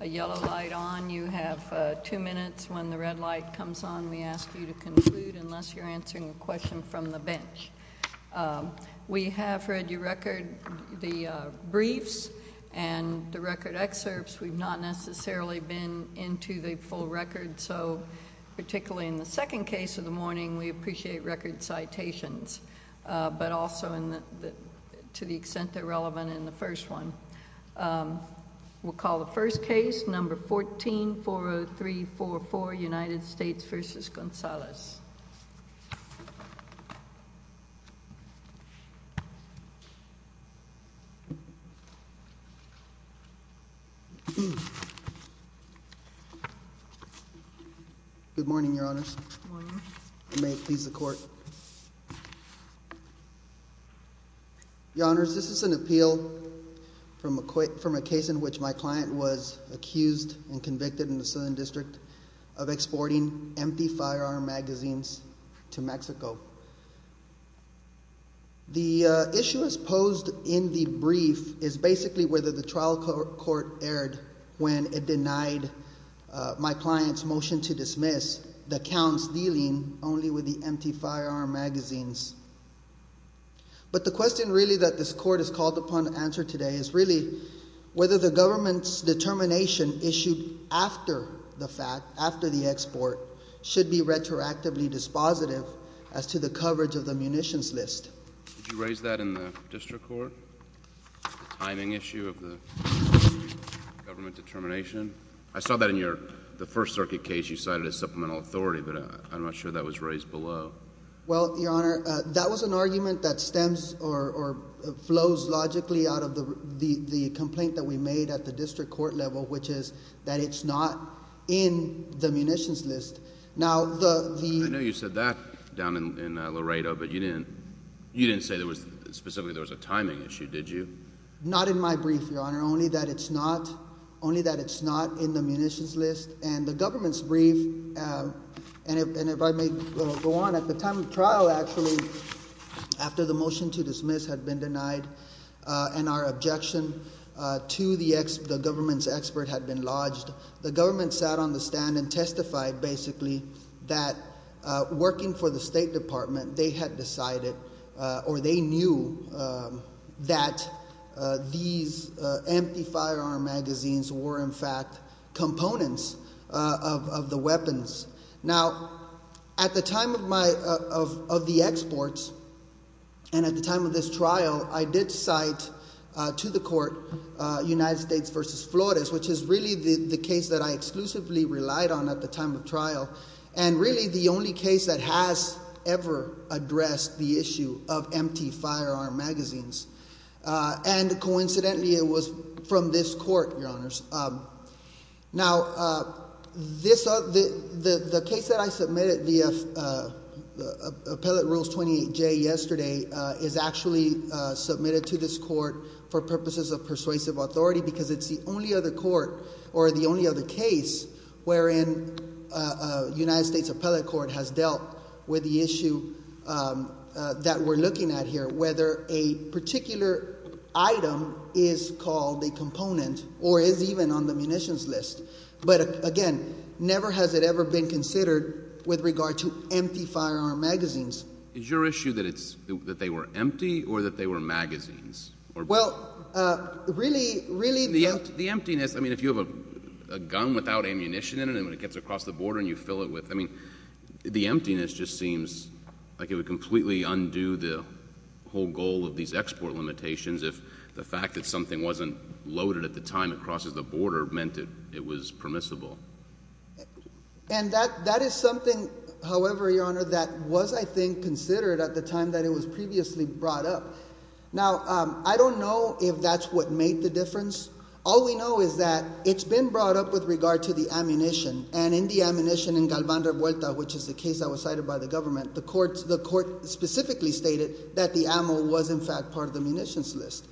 A yellow light on, you have two minutes. When the red light comes on, we ask you to conclude unless you're answering a question from the bench. We have read your record, the briefs, and the record excerpts. We've not necessarily been into the full record, so particularly in the second case of the morning, we appreciate record citations, but also to the extent they're relevant in the first one. We'll call the first case, number 14-40344, United States v. Gonzalez. Good morning, Your Honors. May it please the Court. Your Honors, this is an appeal from a case in which my client was accused and convicted in the Southern District of exporting empty firearm magazines to Mexico. The issue as posed in the brief is basically whether the trial court erred when it denied my client's motion to dismiss the counts dealing only with the empty firearm magazines. But the question really that this Court has called upon to answer today is really whether the government's determination issued after the fact, after the export, should be retroactively dispositive as to the coverage of the munitions list. Did you raise that in the district court, the timing issue of the government determination? I saw that in the First Circuit case you cited as supplemental authority, but I'm not sure that was raised below. Well, Your Honor, that was an argument that stems or flows logically out of the complaint that we made at the district court level, which is that it's not in the munitions list. I know you said that down in Laredo, but you didn't say specifically there was a timing issue, did you? Not in my brief, Your Honor, only that it's not in the munitions list. And the government's brief, and if I may go on, at the time of trial, actually, after the motion to dismiss had been denied and our objection to the government's expert had been lodged, the government sat on the stand and testified, basically, that working for the State Department, they had decided or they knew that these empty firearm magazines were, in fact, components of the weapons. Now, at the time of the exports and at the time of this trial, I did cite to the court United States v. Flores, which is really the case that I exclusively relied on at the time of trial and really the only case that has ever addressed the issue of empty firearm magazines. And coincidentally, it was from this court, Your Honors. Now, the case that I submitted via Appellate Rules 28J yesterday is actually submitted to this court for purposes of persuasive authority because it's the only other court or the only other case wherein United States Appellate Court has dealt with the issue that we're looking at here, whether a particular item is called a component or is even on the munitions list. But again, never has it ever been considered with regard to empty firearm magazines. Is your issue that they were empty or that they were magazines? Well, really… The emptiness, I mean, if you have a gun without ammunition in it and it gets across the border and you fill it with, I mean, the emptiness just seems like it would completely undo the whole goal of these export limitations if the fact that something wasn't loaded at the time it crosses the border meant that it was permissible. And that is something, however, Your Honor, that was, I think, considered at the time that it was previously brought up. Now, I don't know if that's what made the difference. All we know is that it's been brought up with regard to the ammunition. And in the ammunition in Galvan de Vuelta, which is the case that was cited by the government, the court specifically stated that the ammo was, in fact, part of the munitions list.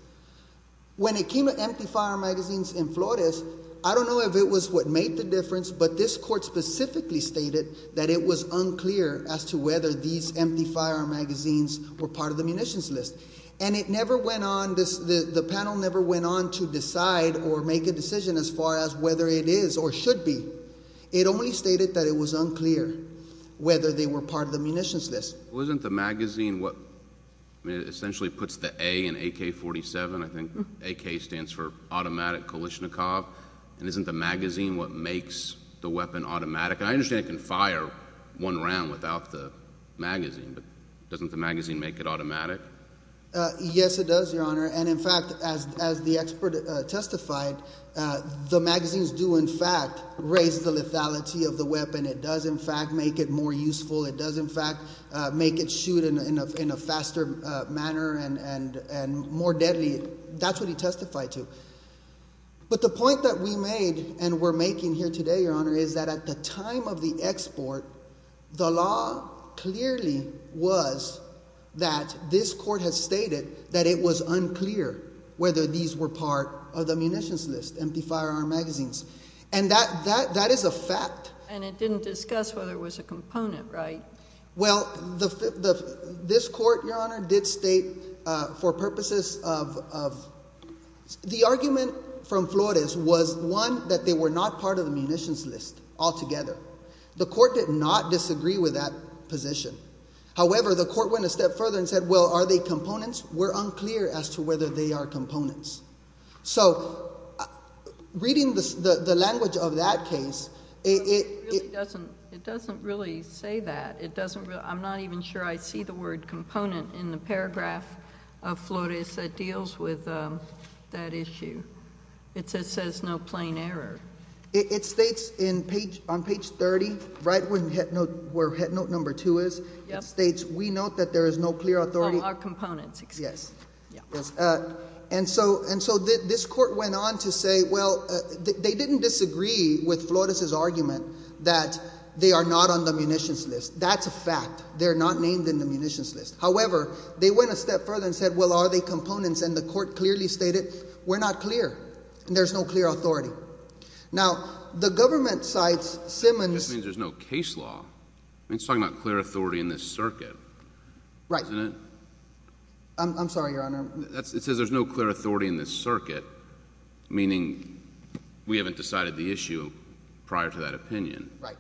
When it came to empty firearm magazines in Flores, I don't know if it was what made the difference, but this court specifically stated that it was unclear as to whether these empty firearm magazines were part of the munitions list. And it never went on, the panel never went on to decide or make a decision as far as whether it is or should be. It only stated that it was unclear whether they were part of the munitions list. Well, isn't the magazine what essentially puts the A in AK-47? I think AK stands for automatic Kalashnikov. And isn't the magazine what makes the weapon automatic? And I understand it can fire one round without the magazine, but doesn't the magazine make it automatic? Yes, it does, Your Honor. And in fact, as the expert testified, the magazines do, in fact, raise the lethality of the weapon. It does, in fact, make it more useful. It does, in fact, make it shoot in a faster manner and more deadly. That's what he testified to. But the point that we made and we're making here today, Your Honor, is that at the time of the export, the law clearly was that this court has stated that it was unclear whether these were part of the munitions list, empty firearm magazines. And that is a fact. And it didn't discuss whether it was a component, right? Well, this court, Your Honor, did state for purposes of—the argument from Flores was, one, that they were not part of the munitions list altogether. The court did not disagree with that position. However, the court went a step further and said, well, are they components? We're unclear as to whether they are components. So reading the language of that case, it— It doesn't really say that. It doesn't really—I'm not even sure I see the word component in the paragraph of Flores that deals with that issue. It says no plain error. It states on page 30, right where headnote number two is, it states, we note that there is no clear authority— And so this court went on to say, well, they didn't disagree with Flores' argument that they are not on the munitions list. That's a fact. They're not named in the munitions list. However, they went a step further and said, well, are they components? And the court clearly stated, we're not clear. There's no clear authority. Now, the government cites Simmons— That just means there's no case law. I mean, it's talking about clear authority in this circuit. Right. Isn't it? I'm sorry, Your Honor. It says there's no clear authority in this circuit, meaning we haven't decided the issue prior to that opinion. Right.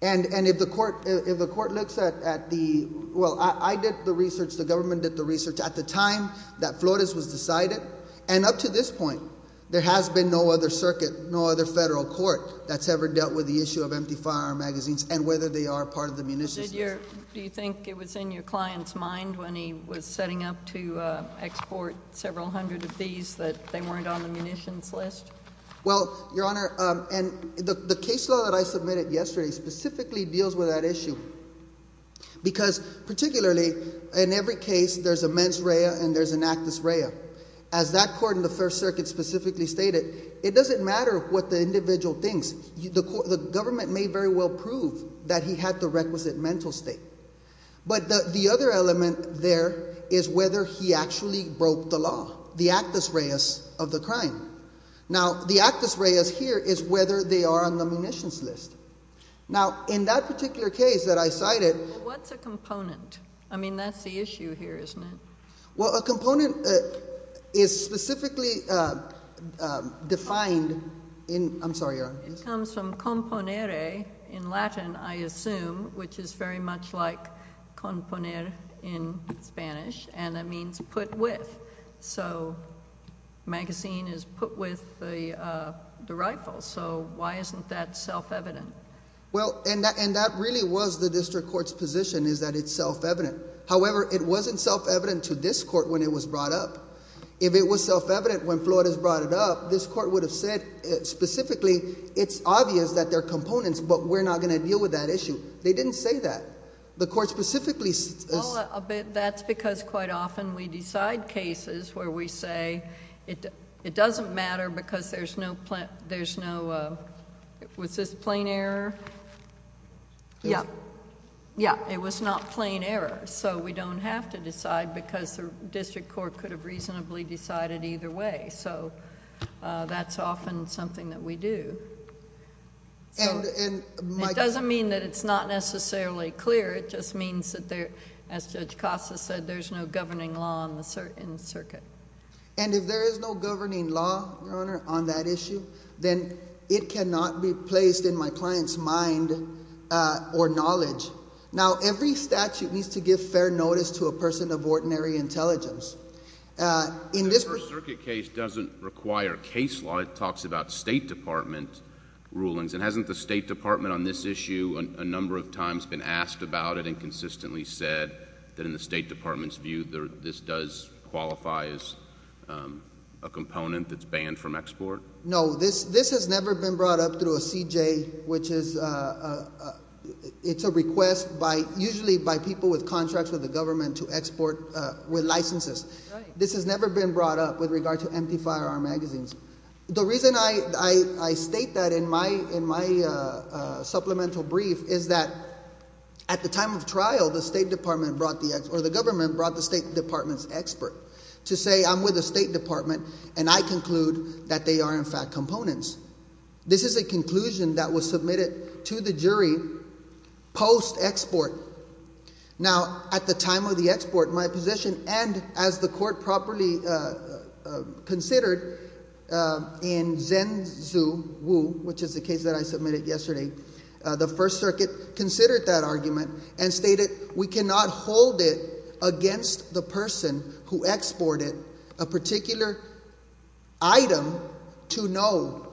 And if the court looks at the—well, I did the research, the government did the research at the time that Flores was decided, and up to this point, there has been no other circuit, no other federal court that's ever dealt with the issue of empty firearm magazines and whether they are part of the munitions list. Did your—do you think it was in your client's mind when he was setting up to export several hundred of these that they weren't on the munitions list? Well, Your Honor, and the case law that I submitted yesterday specifically deals with that issue because particularly in every case, there's a mens rea and there's an actus rea. As that court in the First Circuit specifically stated, it doesn't matter what the individual thinks. The government may very well prove that he had the requisite mental state. But the other element there is whether he actually broke the law, the actus reas of the crime. Now, the actus reas here is whether they are on the munitions list. Now, in that particular case that I cited— What's a component? I mean, that's the issue here, isn't it? Well, a component is specifically defined in—I'm sorry, Your Honor. It comes from componere in Latin, I assume, which is very much like componer in Spanish, and that means put with. So, magazine is put with the rifle, so why isn't that self-evident? Well, and that really was the district court's position is that it's self-evident. However, it wasn't self-evident to this court when it was brought up. If it was self-evident when Flores brought it up, this court would have said specifically, it's obvious that there are components, but we're not going to deal with that issue. They didn't say that. The court specifically— That's because quite often we decide cases where we say it doesn't matter because there's no—was this plain error? Yes. Yes, it was not plain error, so we don't have to decide because the district court could have reasonably decided either way. So, that's often something that we do. And my— It doesn't mean that it's not necessarily clear. It just means that there, as Judge Costa said, there's no governing law in the circuit. And if there is no governing law, Your Honor, on that issue, then it cannot be placed in my client's mind or knowledge. Now, every statute needs to give fair notice to a person of ordinary intelligence. The First Circuit case doesn't require case law. It talks about State Department rulings, and hasn't the State Department on this issue a number of times been asked about it and consistently said that in the State Department's view this does qualify as a component that's banned from export? No, this has never been brought up through a CJ, which is—it's a request by—usually by people with contracts with the government to export with licenses. This has never been brought up with regard to empty firearm magazines. The reason I state that in my supplemental brief is that at the time of trial, the State Department brought the— or the government brought the State Department's expert to say I'm with the State Department and I conclude that they are in fact components. This is a conclusion that was submitted to the jury post-export. Now, at the time of the export, my position, and as the court properly considered in Zenzuwu, which is the case that I submitted yesterday, the First Circuit considered that argument and stated we cannot hold it against the person who exported a particular item to know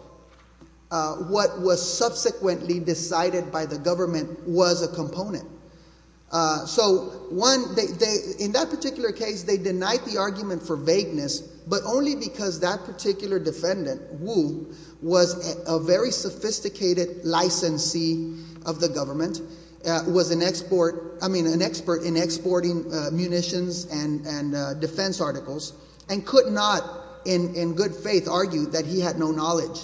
what was subsequently decided by the government was a component. So one—in that particular case, they denied the argument for vagueness, but only because that particular defendant, Wu, was a very sophisticated licensee of the government, was an export—I mean, an expert in exporting munitions and defense articles, and could not, in good faith, argue that he had no knowledge.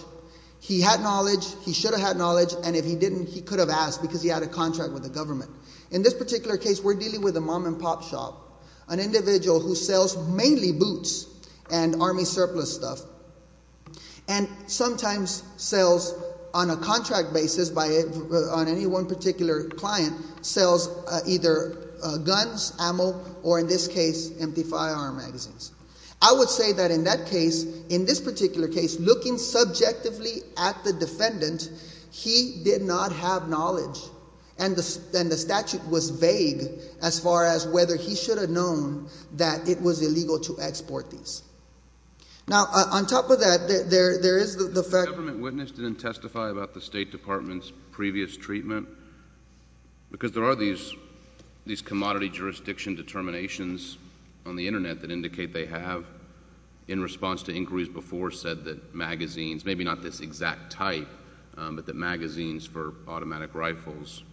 He had knowledge, he should have had knowledge, and if he didn't, he could have asked because he had a contract with the government. In this particular case, we're dealing with a mom-and-pop shop, an individual who sells mainly boots and army surplus stuff, and sometimes sells on a contract basis on any one particular client, sells either guns, ammo, or in this case, empty firearm magazines. I would say that in that case, in this particular case, looking subjectively at the defendant, he did not have knowledge, and the statute was vague as far as whether he should have known that it was illegal to export these. Now, on top of that, there is the fact— The government witness didn't testify about the State Department's previous treatment? Because there are these commodity jurisdiction determinations on the Internet that indicate they have, in response to inquiries before, said that magazines—maybe not this exact type, but that magazines for automatic rifles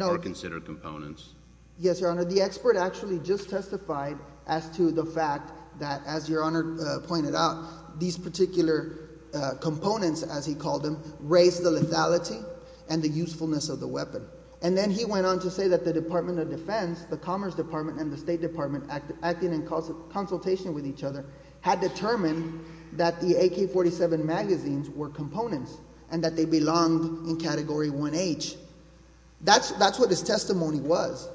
are considered components. Yes, Your Honor. The expert actually just testified as to the fact that, as Your Honor pointed out, these particular components, as he called them, raise the lethality and the usefulness of the weapon. And then he went on to say that the Department of Defense, the Commerce Department, and the State Department, acting in consultation with each other, had determined that the AK-47 magazines were components and that they belonged in Category 1H. That's what his testimony was.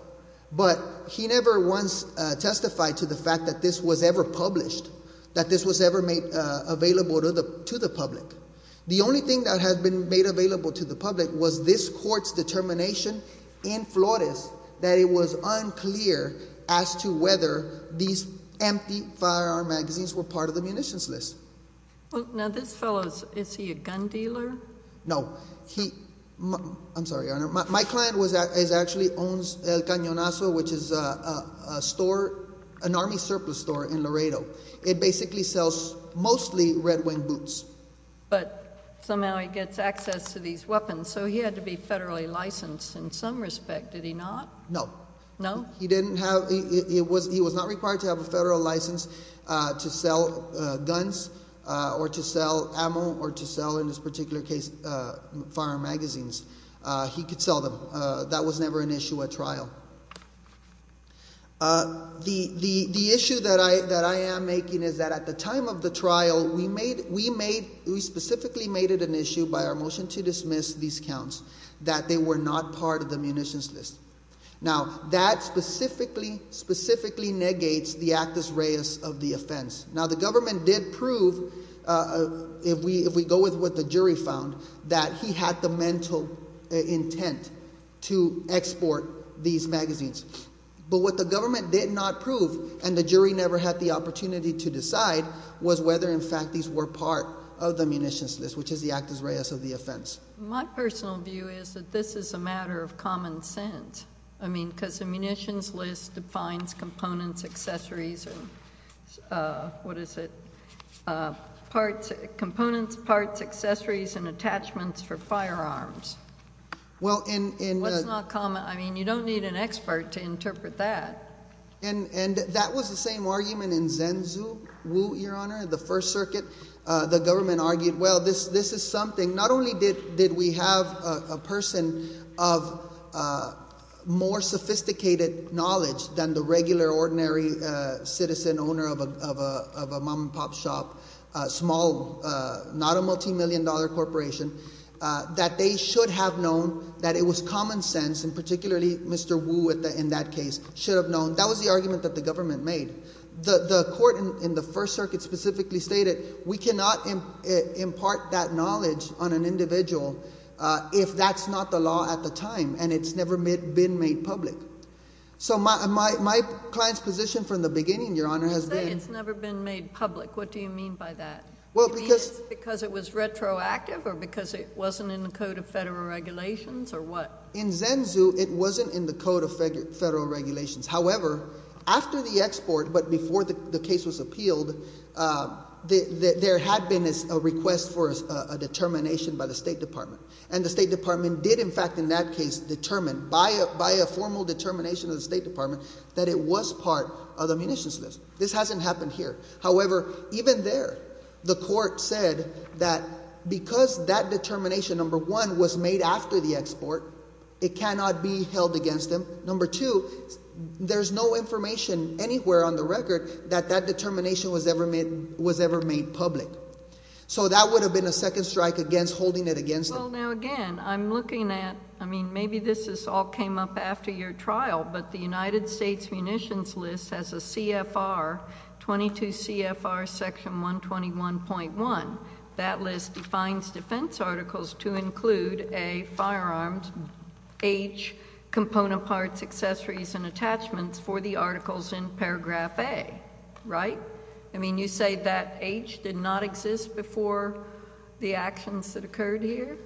But he never once testified to the fact that this was ever published, that this was ever made available to the public. The only thing that had been made available to the public was this Court's determination in Flores that it was unclear as to whether these empty firearm magazines were part of the munitions list. Now, this fellow, is he a gun dealer? No. He—I'm sorry, Your Honor. My client actually owns El Cañonazo, which is a store, an Army surplus store in Laredo. It basically sells mostly Red Wing boots. But somehow he gets access to these weapons, so he had to be federally licensed in some respect, did he not? No. No? He didn't have—he was not required to have a federal license to sell guns or to sell ammo or to sell, in this particular case, firearm magazines. He could sell them. That was never an issue at trial. The issue that I am making is that at the time of the trial, we made—we specifically made it an issue by our motion to dismiss these counts that they were not part of the munitions list. Now, that specifically, specifically negates the actus reus of the offense. Now, the government did prove, if we go with what the jury found, that he had the mental intent to export these magazines. But what the government did not prove, and the jury never had the opportunity to decide, was whether, in fact, these were part of the munitions list, which is the actus reus of the offense. My personal view is that this is a matter of common sense. I mean, because the munitions list defines components, accessories, and—what is it? Parts—components, parts, accessories, and attachments for firearms. Well, in— That's not common. I mean, you don't need an expert to interpret that. And that was the same argument in Zenzu, Wu, Your Honor, in the First Circuit. The government argued, well, this is something—not only did we have a person of more sophisticated knowledge than the regular, ordinary citizen owner of a mom-and-pop shop, small, not a multimillion-dollar corporation, that they should have known that it was common sense, and particularly Mr. Wu, in that case, should have known. That was the argument that the government made. The court in the First Circuit specifically stated we cannot impart that knowledge on an individual if that's not the law at the time, and it's never been made public. So my client's position from the beginning, Your Honor, has been— When you say it's never been made public, what do you mean by that? Well, because— You mean it's because it was retroactive or because it wasn't in the Code of Federal Regulations, or what? In Zenzu, it wasn't in the Code of Federal Regulations. However, after the export, but before the case was appealed, there had been a request for a determination by the State Department. And the State Department did, in fact, in that case, determine by a formal determination of the State Department that it was part of the munitions list. This hasn't happened here. However, even there, the court said that because that determination, number one, was made after the export, it cannot be held against them. Number two, there's no information anywhere on the record that that determination was ever made public. So that would have been a second strike against holding it against them. Well, now, again, I'm looking at—I mean, maybe this all came up after your trial, but the United States munitions list has a CFR, 22 CFR section 121.1. That list defines defense articles to include a firearm, age, component parts, accessories, and attachments for the articles in paragraph A, right? I mean, you say that age did not exist before the actions that occurred here?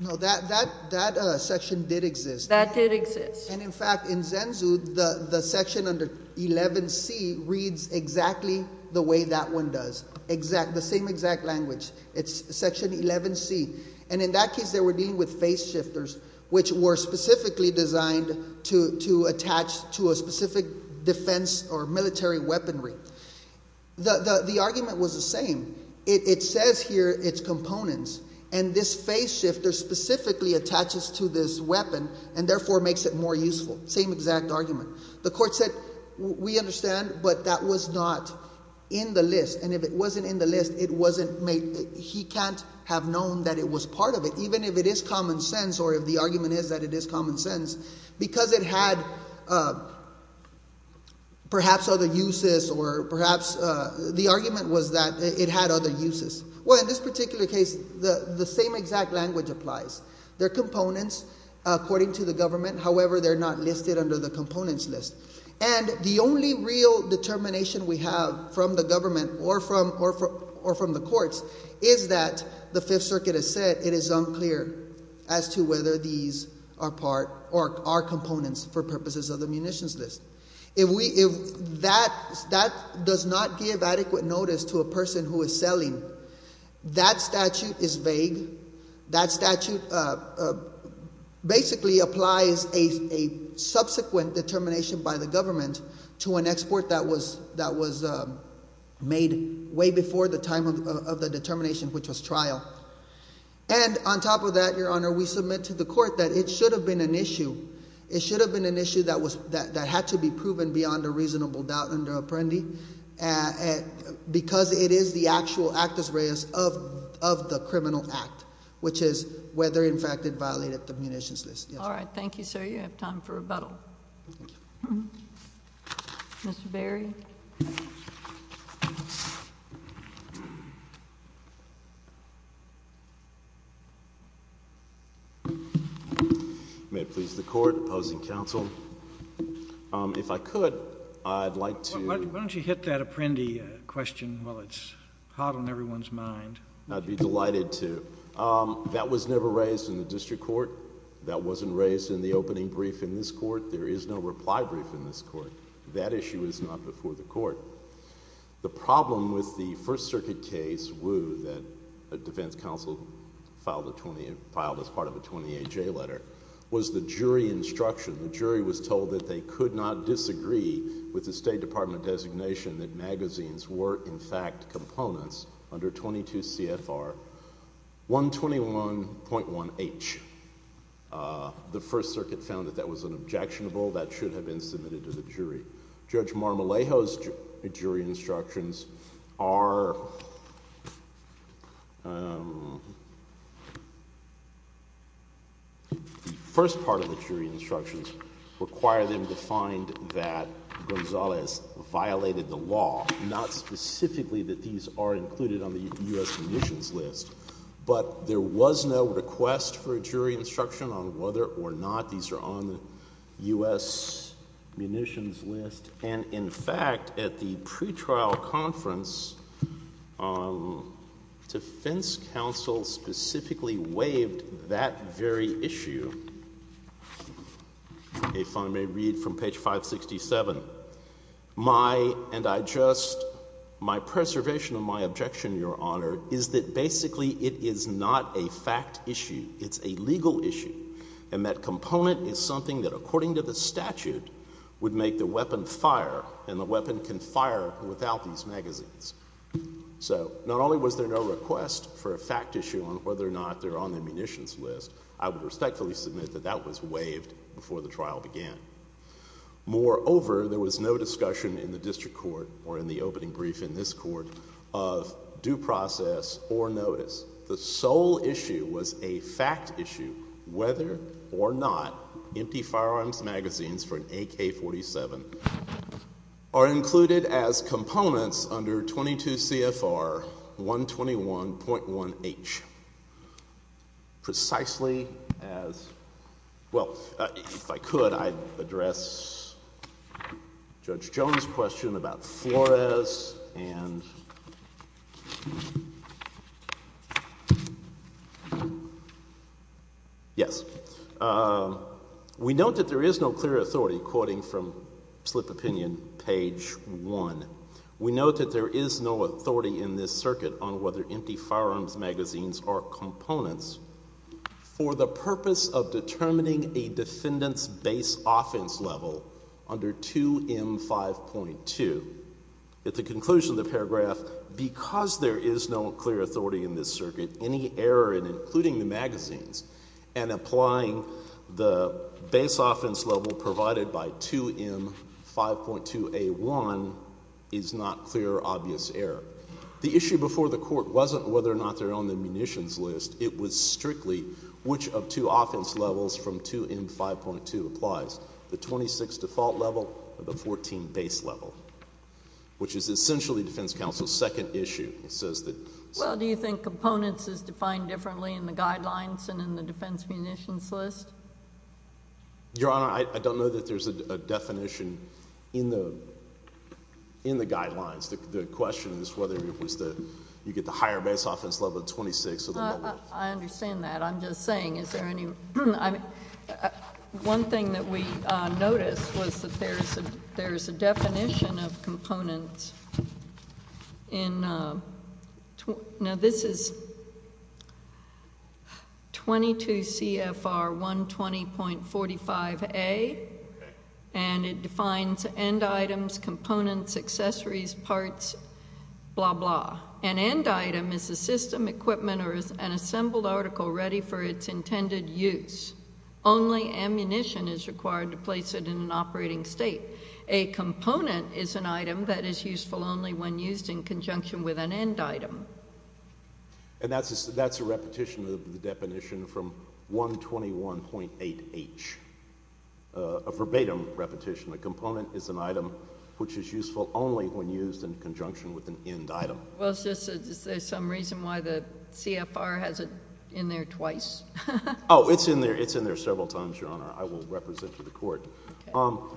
No, that section did exist. That did exist. And, in fact, in ZENZU, the section under 11C reads exactly the way that one does, the same exact language. It's section 11C. And in that case, they were dealing with face shifters, which were specifically designed to attach to a specific defense or military weaponry. The argument was the same. It says here its components, and this face shifter specifically attaches to this weapon and, therefore, makes it more useful, same exact argument. The court said, we understand, but that was not in the list. And if it wasn't in the list, it wasn't made—he can't have known that it was part of it, even if it is common sense or if the argument is that it is common sense, because it had perhaps other uses or perhaps the argument was that it had other uses. Well, in this particular case, the same exact language applies. They're components, according to the government. However, they're not listed under the components list. And the only real determination we have from the government or from the courts is that the Fifth Circuit has said it is unclear as to whether these are part or are components for purposes of the munitions list. If that does not give adequate notice to a person who is selling, that statute is vague. That statute basically applies a subsequent determination by the government to an export that was made way before the time of the determination, which was trial. And on top of that, Your Honor, we submit to the court that it should have been an issue. It should have been an issue that had to be proven beyond a reasonable doubt under Apprendi because it is the actual actus reus of the criminal act, which is whether, in fact, it violated the munitions list. All right. Thank you, sir. You have time for rebuttal. Mr. Berry. May it please the Court, opposing counsel, if I could, I'd like to Why don't you hit that Apprendi question while it's hot on everyone's mind. I'd be delighted to. That was never raised in the district court. That wasn't raised in the opening brief in this court. There is no reply brief in this court. That issue is not before the court. The problem with the First Circuit case, Wu, that a defense counsel filed as part of a 20-A-J letter, was the jury instruction. The jury was told that they could not disagree with the State Department designation that magazines were, in fact, components under 22 CFR 121.1H. The First Circuit found that that was an objectionable. That should have been submitted to the jury. Judge Marmolejo's jury instructions are, the first part of the jury instructions require them to find that Gonzales violated the law. Not specifically that these are included on the U.S. munitions list. But there was no request for a jury instruction on whether or not these are on the U.S. munitions list. And, in fact, at the pretrial conference, defense counsel specifically waived that very issue. If I may read from page 567. My preservation of my objection, Your Honor, is that basically it is not a fact issue. It's a legal issue. And that component is something that, according to the statute, would make the weapon fire. And the weapon can fire without these magazines. So, not only was there no request for a fact issue on whether or not they're on the munitions list, I would respectfully submit that that was waived before the trial began. Moreover, there was no discussion in the district court, or in the opening brief in this court, of due process or notice. The sole issue was a fact issue, whether or not empty firearms magazines for an AK-47 are included as components under 22 CFR 121.1H. Precisely as... well, if I could, I'd address Judge Jones' question about Flores and... Yes. We note that there is no clear authority, quoting from slip opinion, page 1. We note that there is no authority in this circuit on whether empty firearms magazines are components for the purpose of determining a defendant's base offense level under 2M5.2. At the conclusion of the paragraph, because there is no clear authority in this circuit, any error in including the magazines and applying the base offense level provided by 2M5.2A1 is not clear or obvious error. The issue before the court wasn't whether or not they're on the munitions list. It was strictly which of two offense levels from 2M5.2 applies, the 26 default level or the 14 base level, which is essentially defense counsel's second issue. It says that... Well, do you think components is defined differently in the guidelines and in the defense munitions list? Your Honor, I don't know that there's a definition in the guidelines. The question is whether it was that you get the higher base offense level, the 26 or the... I understand that. I'm just saying, is there any... Now, this is 22 CFR 120.45A, and it defines end items, components, accessories, parts, blah, blah. An end item is a system, equipment, or an assembled article ready for its intended use. Only ammunition is required to place it in an operating state. A component is an item that is useful only when used in conjunction with an end item. And that's a repetition of the definition from 121.8H, a verbatim repetition. A component is an item which is useful only when used in conjunction with an end item. Well, is there some reason why the CFR has it in there twice? Oh, it's in there several times, Your Honor. I will represent to the Court. On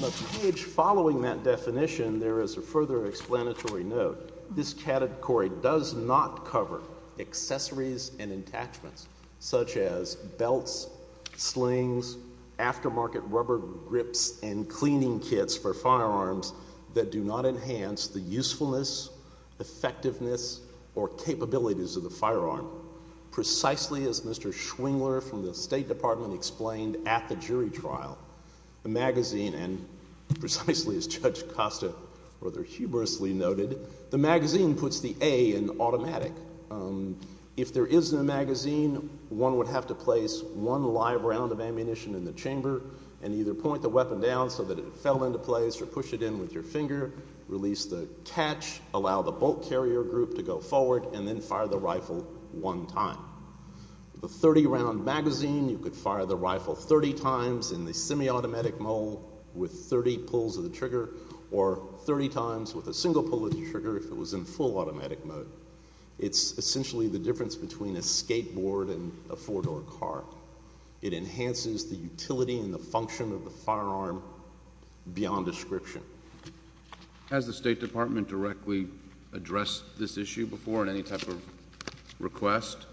the page following that definition, there is a further explanatory note. This category does not cover accessories and attachments such as belts, slings, aftermarket rubber grips, and cleaning kits for firearms that do not enhance the usefulness, effectiveness, or capabilities of the firearm. Precisely as Mr. Schwingler from the State Department explained at the jury trial, the magazine, and precisely as Judge Costa rather humorously noted, the magazine puts the A in automatic. If there isn't a magazine, one would have to place one live round of ammunition in the chamber and either point the weapon down so that it fell into place or push it in with your finger, release the catch, allow the bolt carrier group to go forward, and then fire the rifle one time. The 30-round magazine, you could fire the rifle 30 times in the semi-automatic mode with 30 pulls of the trigger or 30 times with a single pull of the trigger if it was in full automatic mode. It's essentially the difference between a skateboard and a four-door car. It enhances the utility and the function of the firearm beyond description. Has the State Department directly addressed this issue before in any type of request?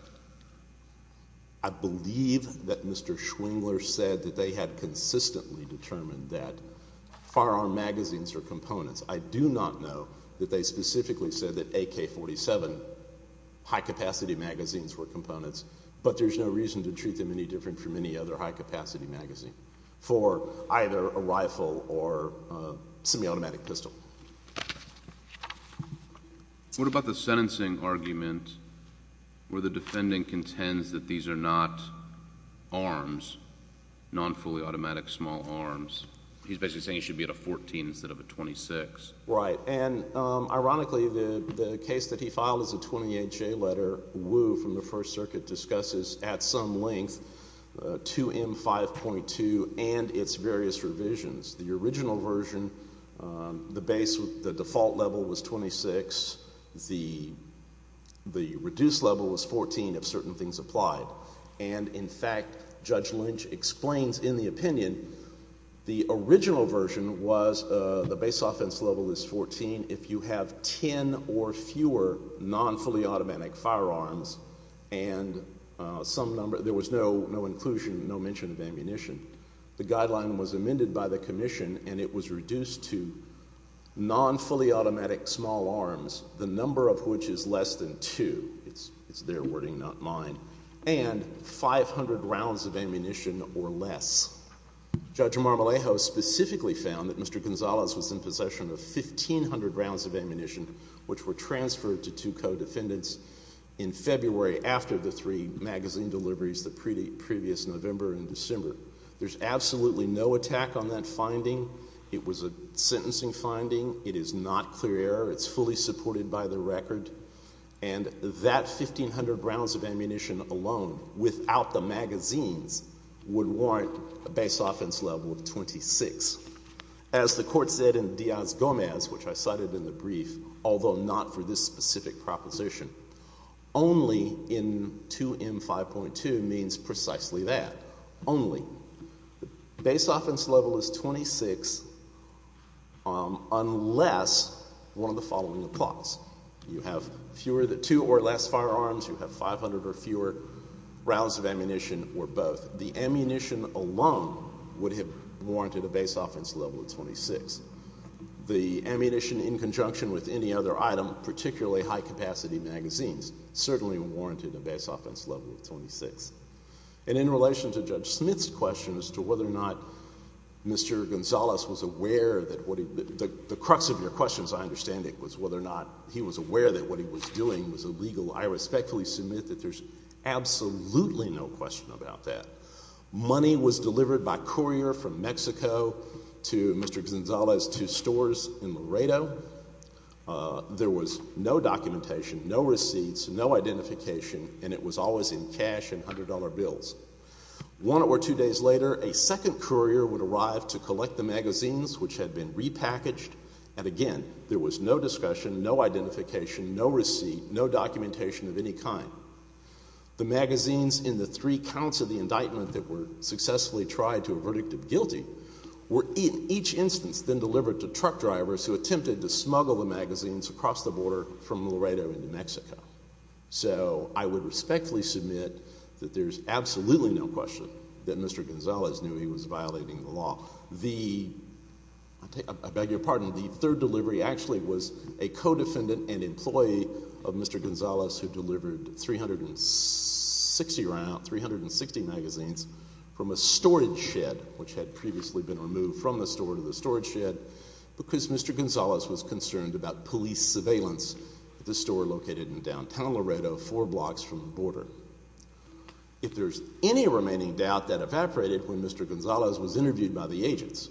I believe that Mr. Schwingler said that they had consistently determined that firearm magazines are components. I do not know that they specifically said that AK-47 high-capacity magazines were components, but there's no reason to treat them any different from any other high-capacity magazine for either a rifle or a semi-automatic pistol. What about the sentencing argument where the defendant contends that these are not arms, non-fully automatic small arms? He's basically saying it should be at a 14 instead of a 26. Right, and ironically, the case that he filed is a 28-J letter. The case that Wu from the First Circuit discusses at some length, 2M5.2 and its various revisions. The original version, the default level was 26. The reduced level was 14 if certain things applied. And, in fact, Judge Lynch explains in the opinion the original version was the base offense level is 14 if you have 10 or fewer non-fully automatic firearms and there was no inclusion, no mention of ammunition. The guideline was amended by the commission and it was reduced to non-fully automatic small arms, the number of which is less than two. It's their wording, not mine. And 500 rounds of ammunition or less. Judge Marmolejo specifically found that Mr. Gonzalez was in possession of 1,500 rounds of ammunition which were transferred to two co-defendants in February after the three magazine deliveries the previous November and December. There's absolutely no attack on that finding. It was a sentencing finding. It is not clear error. It's fully supported by the record. And that 1,500 rounds of ammunition alone without the magazines would warrant a base offense level of 26. As the court said in Diaz-Gomez, which I cited in the brief, although not for this specific proposition, only in 2M5.2 means precisely that. Only. Base offense level is 26 unless one of the following applies. You have fewer than two or less firearms. You have 500 or fewer rounds of ammunition or both. The ammunition alone would have warranted a base offense level of 26. The ammunition in conjunction with any other item, particularly high-capacity magazines, certainly warranted a base offense level of 26. And in relation to Judge Smith's question as to whether or not Mr. Gonzalez was aware, the crux of your question, as I understand it, was whether or not he was aware that what he was doing was illegal. I respectfully submit that there's absolutely no question about that. Money was delivered by courier from Mexico to Mr. Gonzalez to stores in Laredo. There was no documentation, no receipts, no identification, and it was always in cash and $100 bills. One or two days later, a second courier would arrive to collect the magazines, which had been repackaged, and again, there was no discussion, no identification, no receipt, no documentation of any kind. The magazines in the three counts of the indictment that were successfully tried to a verdict of guilty were in each instance then delivered to truck drivers who attempted to smuggle the magazines across the border from Laredo into Mexico. So I would respectfully submit that there's absolutely no question that Mr. Gonzalez knew he was violating the law. The third delivery actually was a co-defendant and employee of Mr. Gonzalez who delivered 360 magazines from a storage shed, which had previously been removed from the store to the storage shed, because Mr. Gonzalez was concerned about police surveillance at the store located in downtown Laredo four blocks from the border. If there's any remaining doubt, that evaporated when Mr. Gonzalez was interviewed by the agents.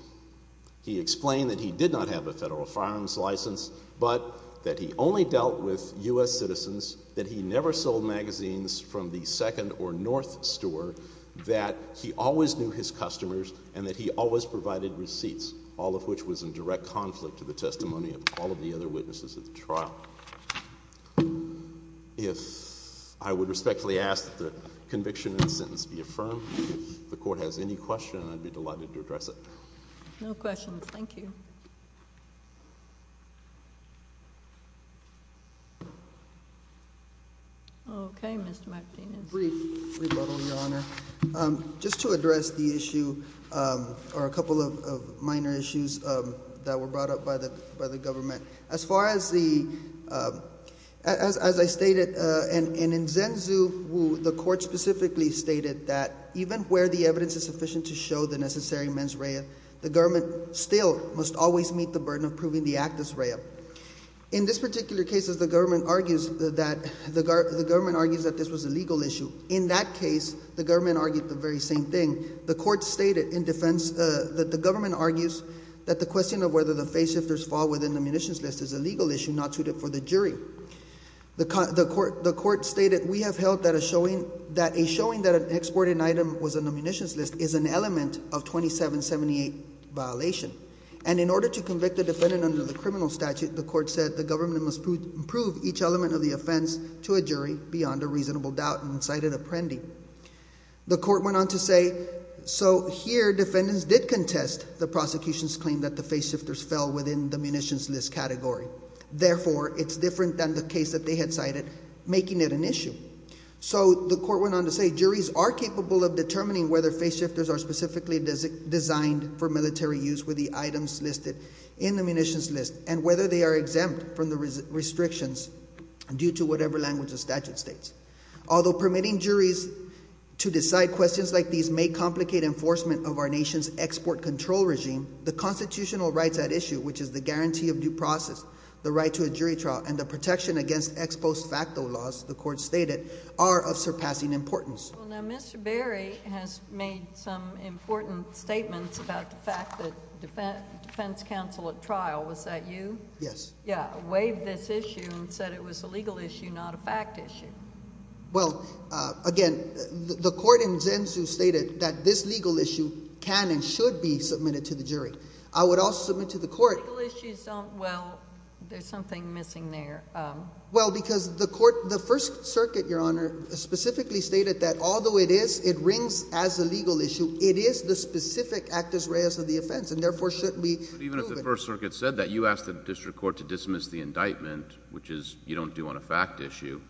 He explained that he did not have a federal firearms license, but that he only dealt with U.S. citizens, that he never sold magazines from the second or north store, that he always knew his customers, and that he always provided receipts, all of which was in direct conflict to the testimony of all of the other witnesses at the trial. If I would respectfully ask that the conviction and sentence be affirmed. If the court has any question, I'd be delighted to address it. No questions, thank you. Okay, Mr. Martinez. Brief rebuttal, Your Honor. Just to address the issue, or a couple of minor issues that were brought up by the government. As far as the, as I stated, and in Zenzu, the court specifically stated that even where the evidence is sufficient to show the necessary mens rea, the government still must always meet the burden of proving the actus rea. In this particular case, the government argues that this was a legal issue. In that case, the government argued the very same thing. The court stated in defense that the government argues that the question of whether the face shifters fall within the munitions list is a legal issue not suited for the jury. The court stated, we have held that a showing that an exported item was on the munitions list is an element of 2778 violation. And in order to convict the defendant under the criminal statute, the court said the government must prove each element of the offense to a jury beyond a reasonable doubt and cited apprendi. The court went on to say, so here defendants did contest the prosecution's claim that the face shifters fell within the munitions list category. Therefore, it's different than the case that they had cited, making it an issue. So the court went on to say, juries are capable of determining whether face shifters are specifically designed for military use with the items listed in the munitions list. And whether they are exempt from the restrictions due to whatever language the statute states. Although permitting juries to decide questions like these may complicate enforcement of our nation's export control regime, the constitutional rights at issue, which is the guarantee of due process, the right to a jury trial, and the protection against ex post facto laws, the court stated, are of surpassing importance. Well, now Mr. Berry has made some important statements about the fact that defense counsel at trial, was that you? Yes. Yeah, waived this issue and said it was a legal issue, not a fact issue. Well, again, the court in Zenzu stated that this legal issue can and should be submitted to the jury. I would also submit to the court. Legal issues don't, well, there's something missing there. Well, because the court, the First Circuit, Your Honor, specifically stated that although it is, it rings as a legal issue, it is the specific actus reus of the offense, and therefore shouldn't be. Even if the First Circuit said that, you asked the district court to dismiss the indictment, which is, you don't do on a fact issue.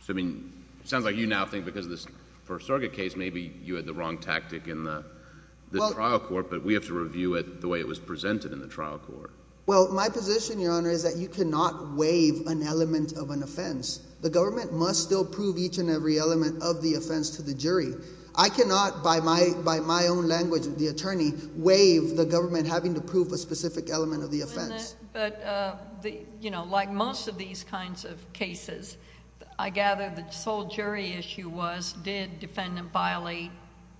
So I mean, it sounds like you now think because of this First Circuit case, maybe you had the wrong tactic in the trial court, but we have to review it the way it was presented in the trial court. Well, my position, Your Honor, is that you cannot waive an element of an offense. The government must still prove each and every element of the offense to the jury. I cannot, by my own language, the attorney, waive the government having to prove a specific element of the offense. But, you know, like most of these kinds of cases, I gather the sole jury issue was, did defendant violate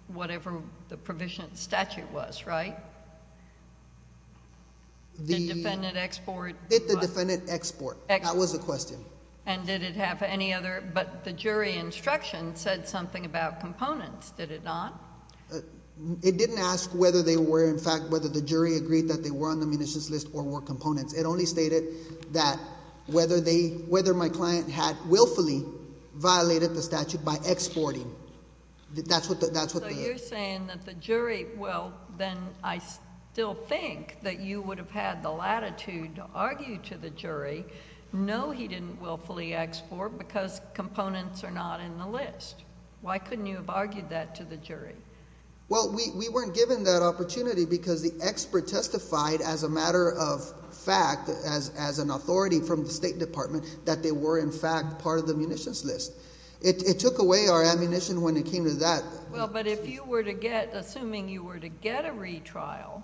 whatever the provision statute was, right? The defendant export. Did the defendant export. That was the question. And did it have any other, but the jury instruction said something about components, did it not? It didn't ask whether they were, in fact, whether the jury agreed that they were on the munitions list or were components. It only stated that whether my client had willfully violated the statute by exporting. That's what they did. So you're saying that the jury, well, then I still think that you would have had the latitude to argue to the jury, no, he didn't willfully export because components are not in the list. Why couldn't you have argued that to the jury? Well, we weren't given that opportunity because the expert testified as a matter of fact, as an authority from the State Department, that they were, in fact, part of the munitions list. It took away our ammunition when it came to that. Well, but if you were to get, assuming you were to get a retrial,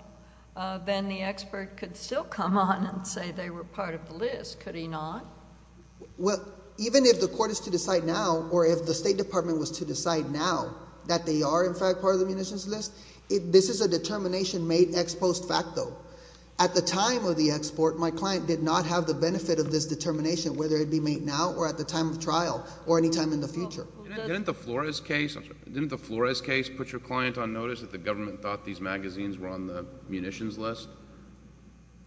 then the expert could still come on and say they were part of the list. Could he not? Well, even if the court is to decide now or if the State Department was to decide now that they are, in fact, part of the munitions list, this is a determination made ex post facto. At the time of the export, my client did not have the benefit of this determination, whether it be made now or at the time of trial or any time in the future. Didn't the Flores case put your client on notice that the government thought these magazines were on the munitions list?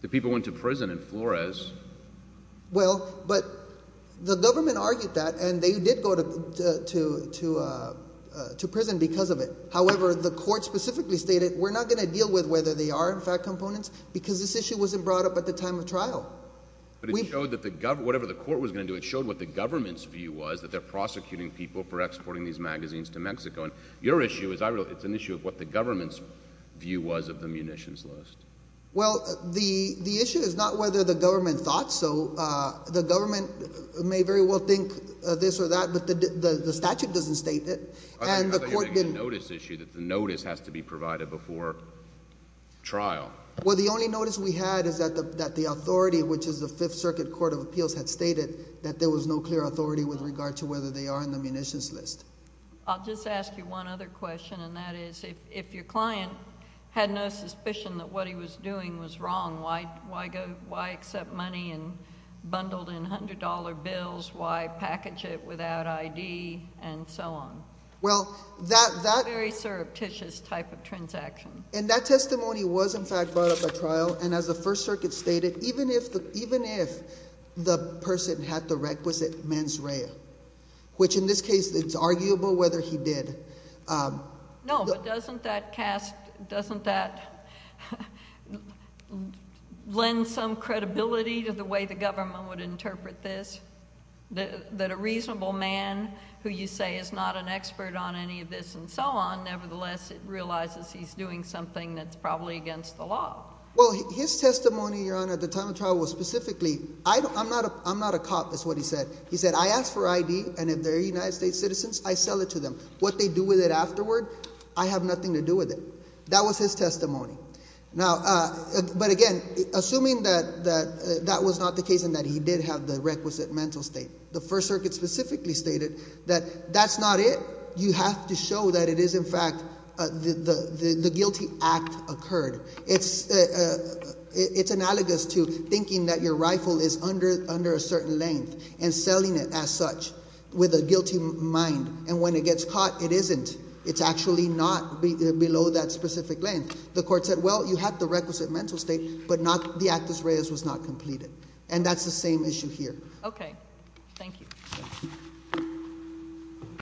The people went to prison in Flores. Well, but the government argued that, and they did go to prison because of it. However, the court specifically stated we're not going to deal with whether they are, in fact, components because this issue wasn't brought up at the time of trial. But it showed that whatever the court was going to do, it showed what the government's view was, that they're prosecuting people for exporting these magazines to Mexico. And your issue is an issue of what the government's view was of the munitions list. Well, the issue is not whether the government thought so. The government may very well think this or that, but the statute doesn't state it, and the court didn't. I thought you were making a notice issue that the notice has to be provided before trial. Well, the only notice we had is that the authority, which is the Fifth Circuit Court of Appeals, had stated that there was no clear authority with regard to whether they are on the munitions list. I'll just ask you one other question, and that is if your client had no suspicion that what he was doing was wrong, why accept money bundled in $100 bills? Why package it without ID and so on? Well, that... That's a very surreptitious type of transaction. And that testimony was, in fact, brought up at trial, and as the First Circuit stated, even if the person had the requisite mens rea, which in this case it's arguable whether he did... No, but doesn't that lend some credibility to the way the government would interpret this? That a reasonable man who you say is not an expert on any of this and so on, nevertheless it realizes he's doing something that's probably against the law. Well, his testimony, Your Honor, at the time of trial was specifically... I'm not a cop, is what he said. He said, I ask for ID, and if they're United States citizens, I sell it to them. What they do with it afterward, I have nothing to do with it. That was his testimony. Now, but again, assuming that that was not the case and that he did have the requisite mental state, the First Circuit specifically stated that that's not it. You have to show that it is, in fact, the guilty act occurred. It's analogous to thinking that your rifle is under a certain length and selling it as such with a guilty mind. And when it gets caught, it isn't. It's actually not below that specific length. The court said, well, you have the requisite mental state, but the actus reus was not completed. And that's the same issue here. Okay. Thank you.